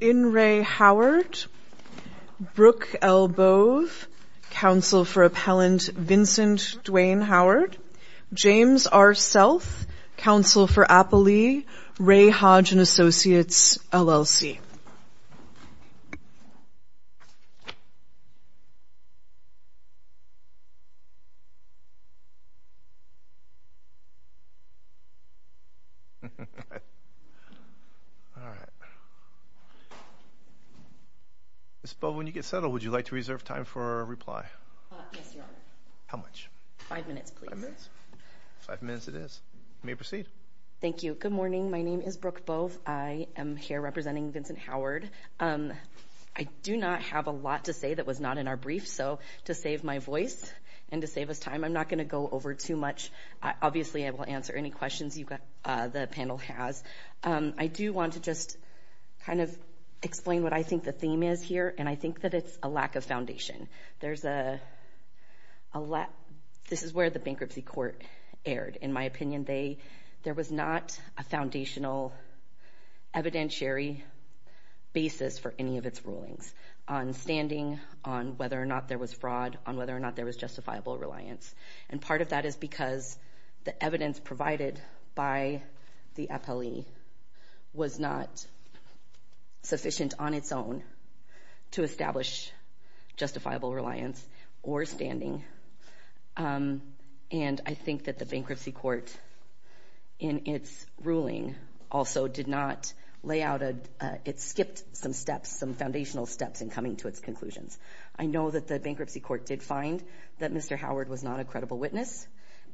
In re Howard, Brooke L. Bove, counsel for appellant Vincent Dwayne Howard, James R. Self, counsel for Appley, Ray Hodge and associates LLC. Ms. Bove, when you get settled, would you like to reserve time for a reply? Yes, your honor. How much? Five minutes, please. Five minutes. Five minutes it is. You may proceed. Thank you. Good morning. My name is Brooke Bove. I am here representing Vincent Howard. I do not have a lot to say that was not in our brief. So to save my voice and to save us time, I'm not going to go over too much. Obviously, I will answer any questions you've got the panel has. I do want to just kind of explain what I think the theme is here. And I think that it's a lack of foundation. This is where the bankruptcy court erred, in my opinion. There was not a foundational evidentiary basis for any of its rulings on standing, on whether or not there was fraud, on whether or not there was justifiable reliance. And part of that is because the evidence provided by the appellee was not sufficient on its own to establish justifiable reliance or standing. And I think that the bankruptcy court in its ruling also did not lay out a – it skipped some steps, some foundational steps in coming to its conclusions. I know that the bankruptcy court did find that Mr. Howard was not a credible witness.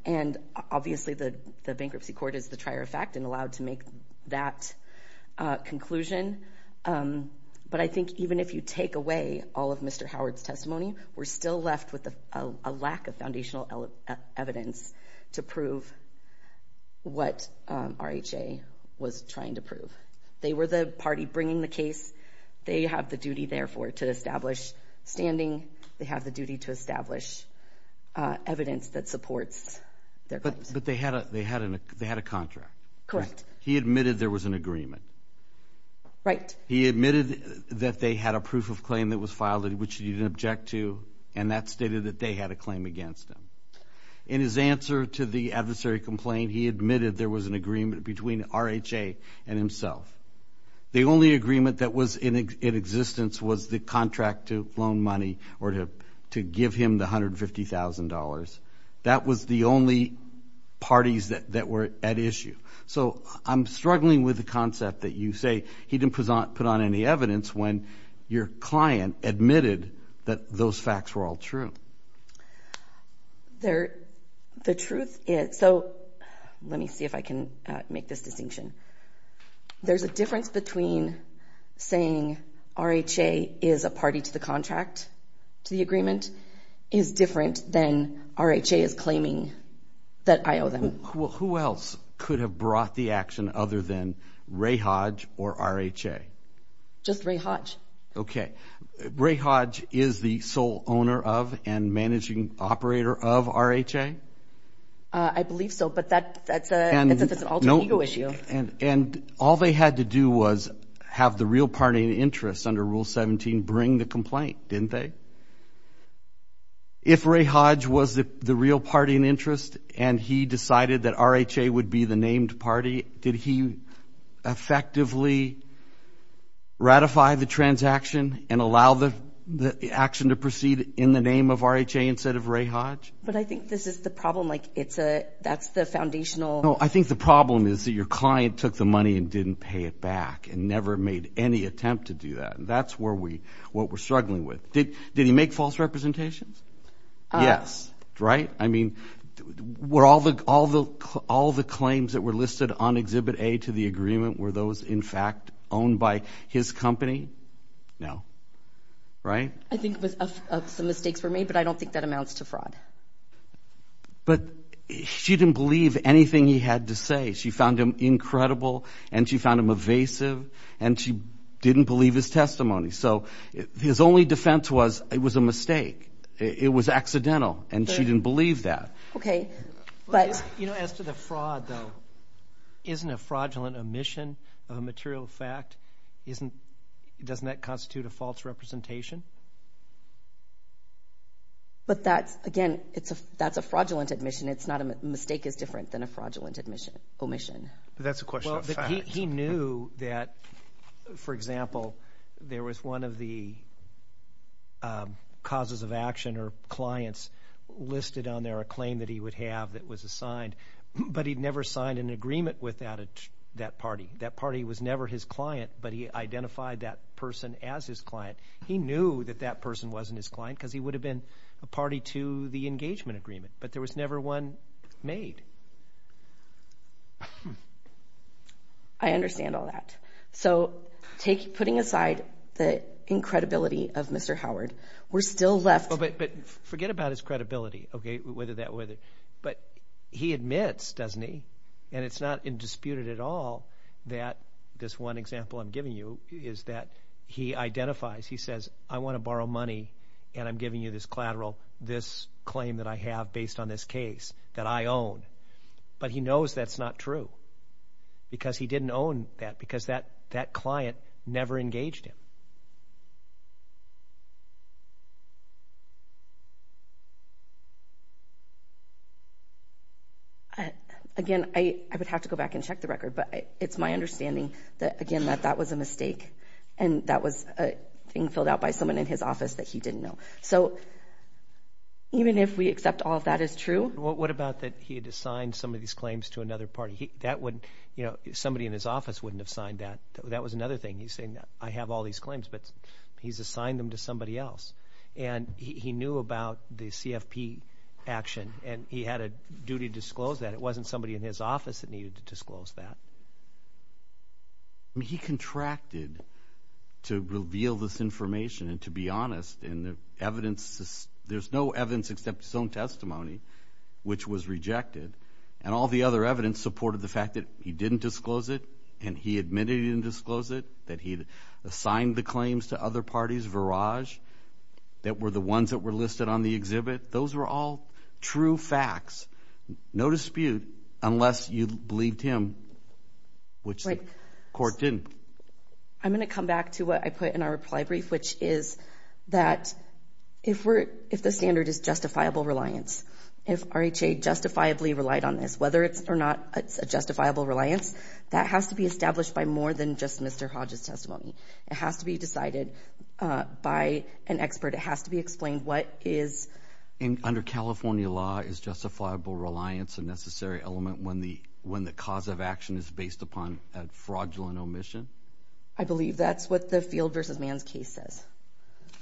And obviously, the bankruptcy court is the trier of fact and allowed to make that conclusion. But I think even if you take away all of Mr. Howard's testimony, we're still left with a lack of foundational evidence to prove what RHA was trying to prove. They were the party bringing the case. They have the duty, therefore, to establish standing. They have the duty to establish evidence that supports their claims. But they had a contract. Correct. He admitted there was an agreement. Right. He admitted that they had a proof of claim that was filed, which he didn't object to, and that stated that they had a claim against him. In his answer to the adversary complaint, he admitted there was an agreement between RHA and himself. The only agreement that was in existence was the contract to loan money or to give him the $150,000. That was the only parties that were at issue. So I'm struggling with the concept that you say he didn't put on any evidence when your client admitted that those facts were all true. The truth is – so let me see if I can make this distinction. There's a difference between saying RHA is a party to the contract, to the agreement, is different than RHA is claiming that I owe them. Who else could have brought the action other than Ray Hodge or RHA? Just Ray Hodge. Okay. Ray Hodge is the sole owner of and managing operator of RHA? I believe so, but that's an alter ego issue. And all they had to do was have the real party in interest under Rule 17 bring the complaint, didn't they? If Ray Hodge was the real party in interest and he decided that RHA would be the named party, did he effectively ratify the transaction and allow the action to proceed in the name of RHA instead of Ray Hodge? But I think this is the problem. That's the foundational – No, I think the problem is that your client took the money and didn't pay it back and never made any attempt to do that. That's what we're struggling with. Did he make false representations? Yes. Right? I mean, were all the claims that were listed on Exhibit A to the agreement, were those in fact owned by his company? No. Right? I think some mistakes were made, but I don't think that amounts to fraud. But she didn't believe anything he had to say. She found him incredible, and she found him evasive, and she didn't believe his testimony. So his only defense was it was a mistake. It was accidental, and she didn't believe that. Okay. But – You know, as to the fraud, though, isn't a fraudulent omission of a material fact – doesn't that constitute a false representation? But that's – again, that's a fraudulent omission. It's not a – a mistake is different than a fraudulent omission. But that's a question of fact. Well, he knew that, for example, there was one of the causes of action or clients listed on there, a claim that he would have that was assigned, but he'd never signed an agreement with that party. That party was never his client, but he identified that person as his client. He knew that that person wasn't his client because he would have been a party to the engagement agreement, but there was never one made. I understand all that. So take – putting aside the incredibility of Mr. Howard, we're still left – But forget about his credibility, okay, whether that – but he admits, doesn't he, and it's not disputed at all that this one example I'm giving you is that he identifies, he says, I want to borrow money, and I'm giving you this collateral, this claim that I have based on this case that I own. But he knows that's not true because he didn't own that because that – that client never engaged him. Again, I would have to go back and check the record, but it's my understanding that, again, that that was a mistake and that was a thing filled out by someone in his office that he didn't know. So even if we accept all of that is true – What about that he had assigned some of these claims to another party? That wouldn't – you know, somebody in his office wouldn't have signed that. That was another thing. He's saying, I have all these claims, but he's assigned them to somebody else. And he knew about the CFP action, and he had a duty to disclose that. It wasn't somebody in his office that needed to disclose that. I mean, he contracted to reveal this information and to be honest, and the evidence – there's no evidence except his own testimony, which was rejected, and all the other evidence supported the fact that he didn't disclose it and he admitted he didn't disclose it, that he had assigned the claims to other parties, Verage, that were the ones that were listed on the exhibit. Those were all true facts, no dispute, unless you believed him, which the court didn't. I'm going to come back to what I put in our reply brief, which is that if we're – if the standard is justifiable reliance, if RHA justifiably relied on this, whether it's or not, it's a justifiable reliance, that has to be established by more than just Mr. Hodge's testimony. It has to be decided by an expert. It has to be explained what is – And under California law, is justifiable reliance a necessary element when the cause of action is based upon a fraudulent omission? I believe that's what the Field v. Mann's case says.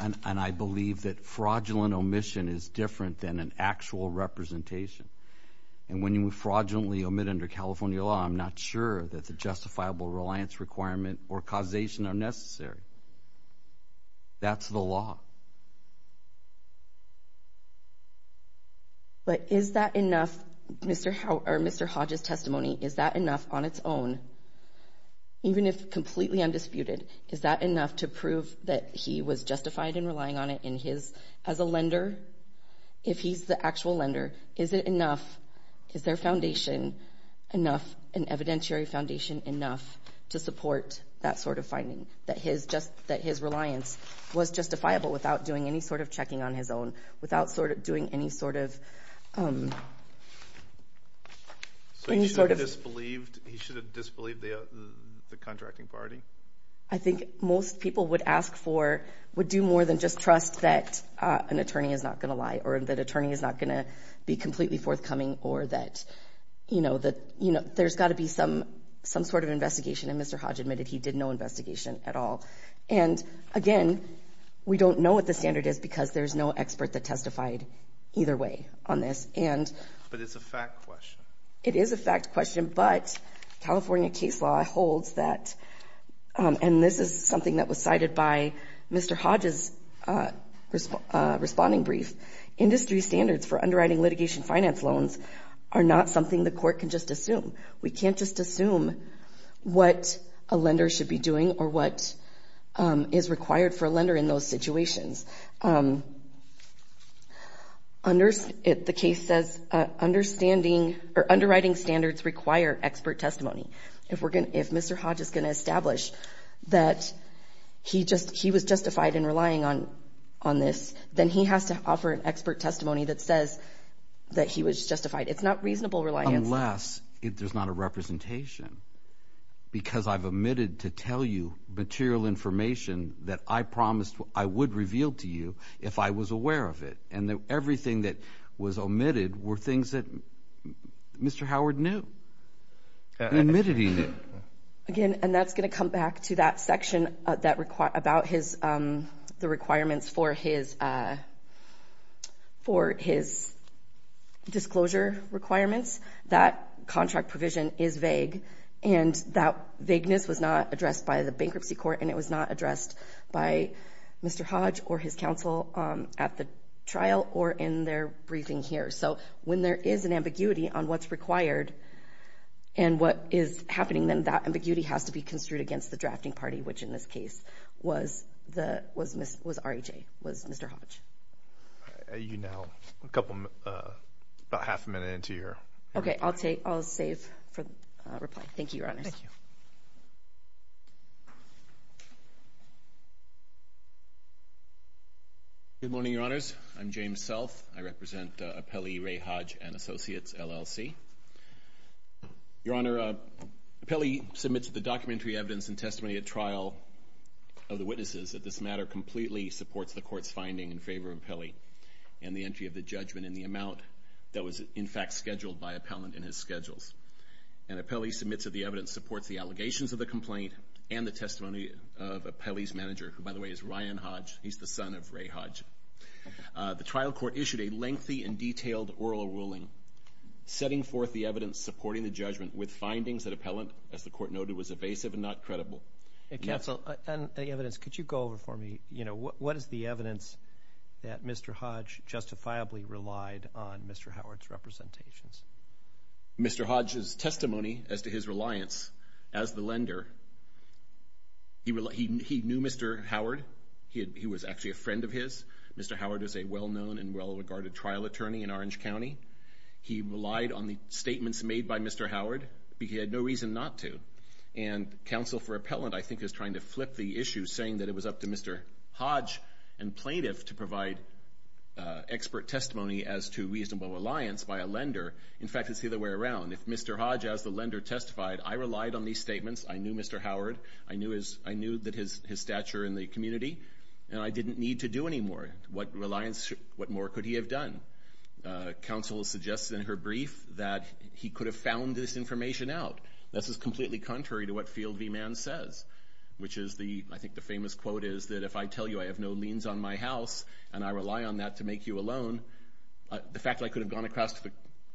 And I believe that fraudulent omission is different than an actual representation. And when you fraudulently omit under California law, I'm not sure that the justifiable reliance requirement or causation are necessary. That's the law. But is that enough, Mr. – or Mr. Hodge's testimony, is that enough on its own, even if completely undisputed, is that enough to prove that he was justified in relying on it in his – as a lender, if he's the actual lender? Is it enough – is their foundation enough, an evidentiary foundation enough, to support that sort of finding, that his just – that his reliance was justifiable without doing any sort of checking on his own, without sort of doing any sort of – So he should have disbelieved – he should have disbelieved the contracting party? I think most people would ask for – would do more than just trust that an attorney is not going to lie, or that an attorney is not going to be completely forthcoming, or that, you know, there's got to be some sort of investigation, and Mr. Hodge admitted he did no investigation at all. And again, we don't know what the standard is because there's no expert that testified either way on this, and – But it's a fact question. It is a fact question, but California case law holds that – and this is something that Mr. Hodge's responding brief – industry standards for underwriting litigation finance loans are not something the court can just assume. We can't just assume what a lender should be doing or what is required for a lender in those situations. The case says understanding – or underwriting standards require expert testimony. If we're going to – if Mr. Hodge is going to establish that he just – he was justified in relying on this, then he has to offer an expert testimony that says that he was justified. It's not reasonable reliance. Unless there's not a representation, because I've omitted to tell you material information that I promised I would reveal to you if I was aware of it, and everything that was omitted were things that Mr. Howard knew. He admitted he knew. Again, and that's going to come back to that section that – about his – the requirements for his – for his disclosure requirements, that contract provision is vague, and that vagueness was not addressed by the bankruptcy court, and it was not addressed by Mr. Hodge or his counsel at the trial or in their briefing here. So, when there is an ambiguity on what's required and what is happening, then that ambiguity has to be construed against the drafting party, which in this case was the – was RHA, was Mr. Hodge. You now – a couple – about half a minute into your – Okay. I'll take – I'll save for reply. Thank you, Your Honors. Thank you. Good morning, Your Honors. I'm James Self. I represent Appellee Ray Hodge and Associates, LLC. Your Honor, Appellee submits the documentary evidence and testimony at trial of the witnesses that this matter completely supports the court's finding in favor of Appellee and the entry of the judgment in the amount that was, in fact, scheduled by Appellant in his schedules. And Appellee submits that the evidence supports the allegations of the complaint and the testimony of Appellee's manager, who, by the way, is Ryan Hodge. He's the son of Ray Hodge. The trial court issued a lengthy and detailed oral ruling setting forth the evidence supporting the judgment with findings that Appellant, as the court noted, was evasive and not credible. Counsel, on the evidence, could you go over for me, you know, what is the evidence that Mr. Hodge justifiably relied on Mr. Howard's representations? Mr. Hodge's testimony as to his reliance as the lender, he knew Mr. Howard. He was actually a friend of his. Mr. Howard is a well-known and well-regarded trial attorney in Orange County. He relied on the statements made by Mr. Howard, but he had no reason not to. And counsel for Appellant, I think, is trying to flip the issue, saying that it was up to Mr. Hodge and plaintiff to provide expert testimony as to reasonable reliance by a lender. In fact, it's the other way around. If Mr. Hodge, as the lender, testified, I relied on these statements, I knew Mr. Howard, I knew that his stature in the community, and I didn't need to do any more. What reliance, what more could he have done? Counsel suggests in her brief that he could have found this information out. This is completely contrary to what Field v. Mann says, which is the, I think the famous quote is that if I tell you I have no liens on my house and I rely on that to make you a loan, the fact that I could have gone across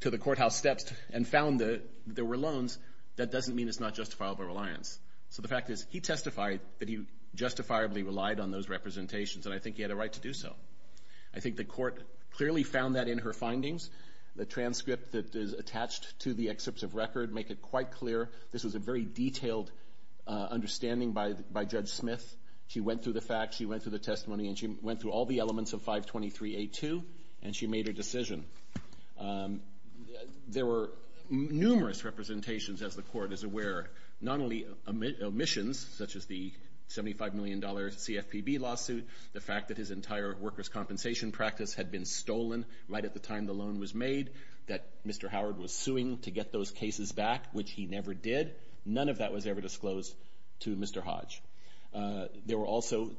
to the courthouse steps and found that there were loans, that doesn't mean it's not justifiable reliance. So the fact is, he testified that he justifiably relied on those representations, and I think he had a right to do so. I think the court clearly found that in her findings. The transcript that is attached to the excerpts of record make it quite clear this was a very detailed understanding by Judge Smith. She went through the facts, she went through the testimony, and she went through all the elements of 523A2, and she made a decision. There were numerous representations, as the court is aware, not only omissions, such as the $75 million CFPB lawsuit, the fact that his entire workers' compensation practice had been stolen right at the time the loan was made, that Mr. Howard was suing to get those cases back, which he never did, none of that was ever disclosed to Mr. Hodge. There were also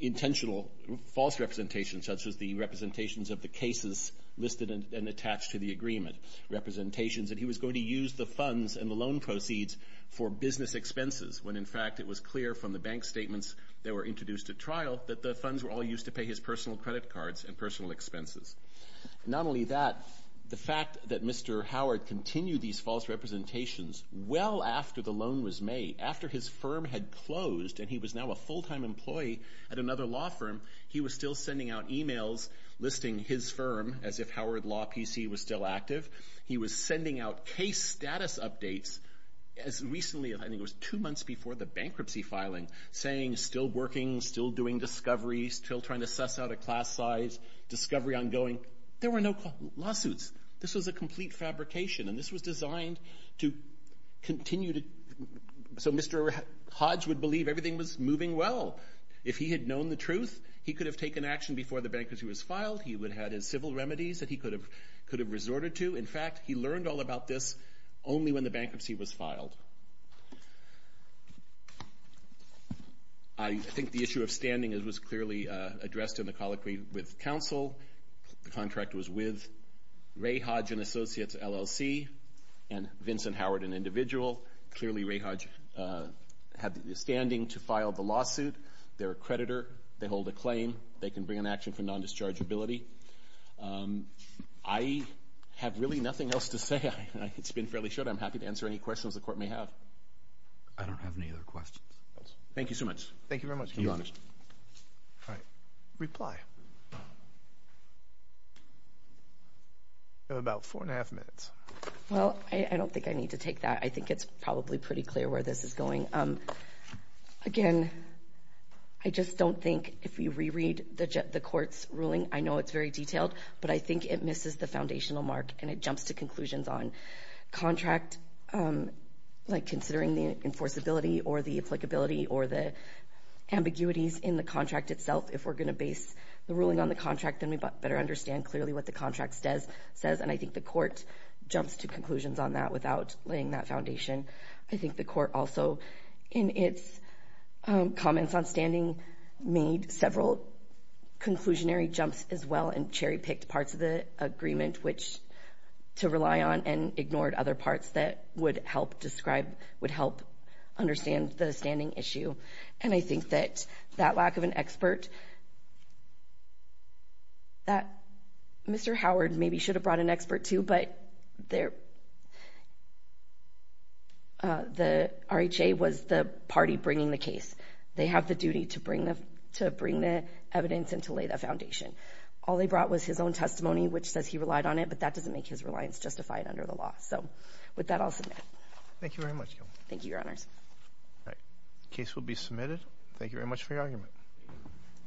intentional false representations, such as the representations of the cases listed and attached to the agreement, representations that he was going to use the funds and the loan proceeds for business expenses, when in fact it was clear from the bank statements that were introduced at trial that the funds were all used to pay his personal credit cards and personal expenses. Not only that, the fact that Mr. Howard continued these false representations well after the loan was made, after his firm had closed and he was now a full-time employee at another law PC was still active, he was sending out case status updates as recently, I think it was two months before the bankruptcy filing, saying still working, still doing discoveries, still trying to suss out a class size, discovery ongoing. There were no lawsuits. This was a complete fabrication, and this was designed to continue to... So Mr. Hodge would believe everything was moving well. If he had known the truth, he could have taken action before the bankruptcy was filed, he would have had his civil remedies that he could have resorted to. In fact, he learned all about this only when the bankruptcy was filed. I think the issue of standing was clearly addressed in the colloquy with counsel, the contract was with Ray Hodge and Associates LLC, and Vincent Howard, an individual, clearly Ray Hodge had the standing to file the lawsuit, they're a creditor, they hold a claim, they can bring an action for non-dischargeability. I have really nothing else to say, it's been fairly short, I'm happy to answer any questions the court may have. I don't have any other questions. Thank you so much. Thank you very much. Your Honor. All right. Reply. You have about four and a half minutes. Well, I don't think I need to take that, I think it's probably pretty clear where this is going. Again, I just don't think if you reread the court's ruling, I know it's very detailed, but I think it misses the foundational mark and it jumps to conclusions on contract, like considering the enforceability or the applicability or the ambiguities in the contract itself. If we're going to base the ruling on the contract, then we better understand clearly what the contract says, and I think the court jumps to conclusions on that without laying that foundation. I think the court also, in its comments on standing, made several conclusionary jumps as well and cherry-picked parts of the agreement to rely on and ignored other parts that would help describe, would help understand the standing issue. And I think that that lack of an expert, that Mr. Howard maybe should have brought an expert to, but the RHA was the party bringing the case. They have the duty to bring the evidence and to lay that foundation. All they brought was his own testimony, which says he relied on it, but that doesn't make his reliance justified under the law. So with that, I'll submit. Thank you very much. Thank you, Your Honors. All right. The case will be submitted. Thank you very much for your argument.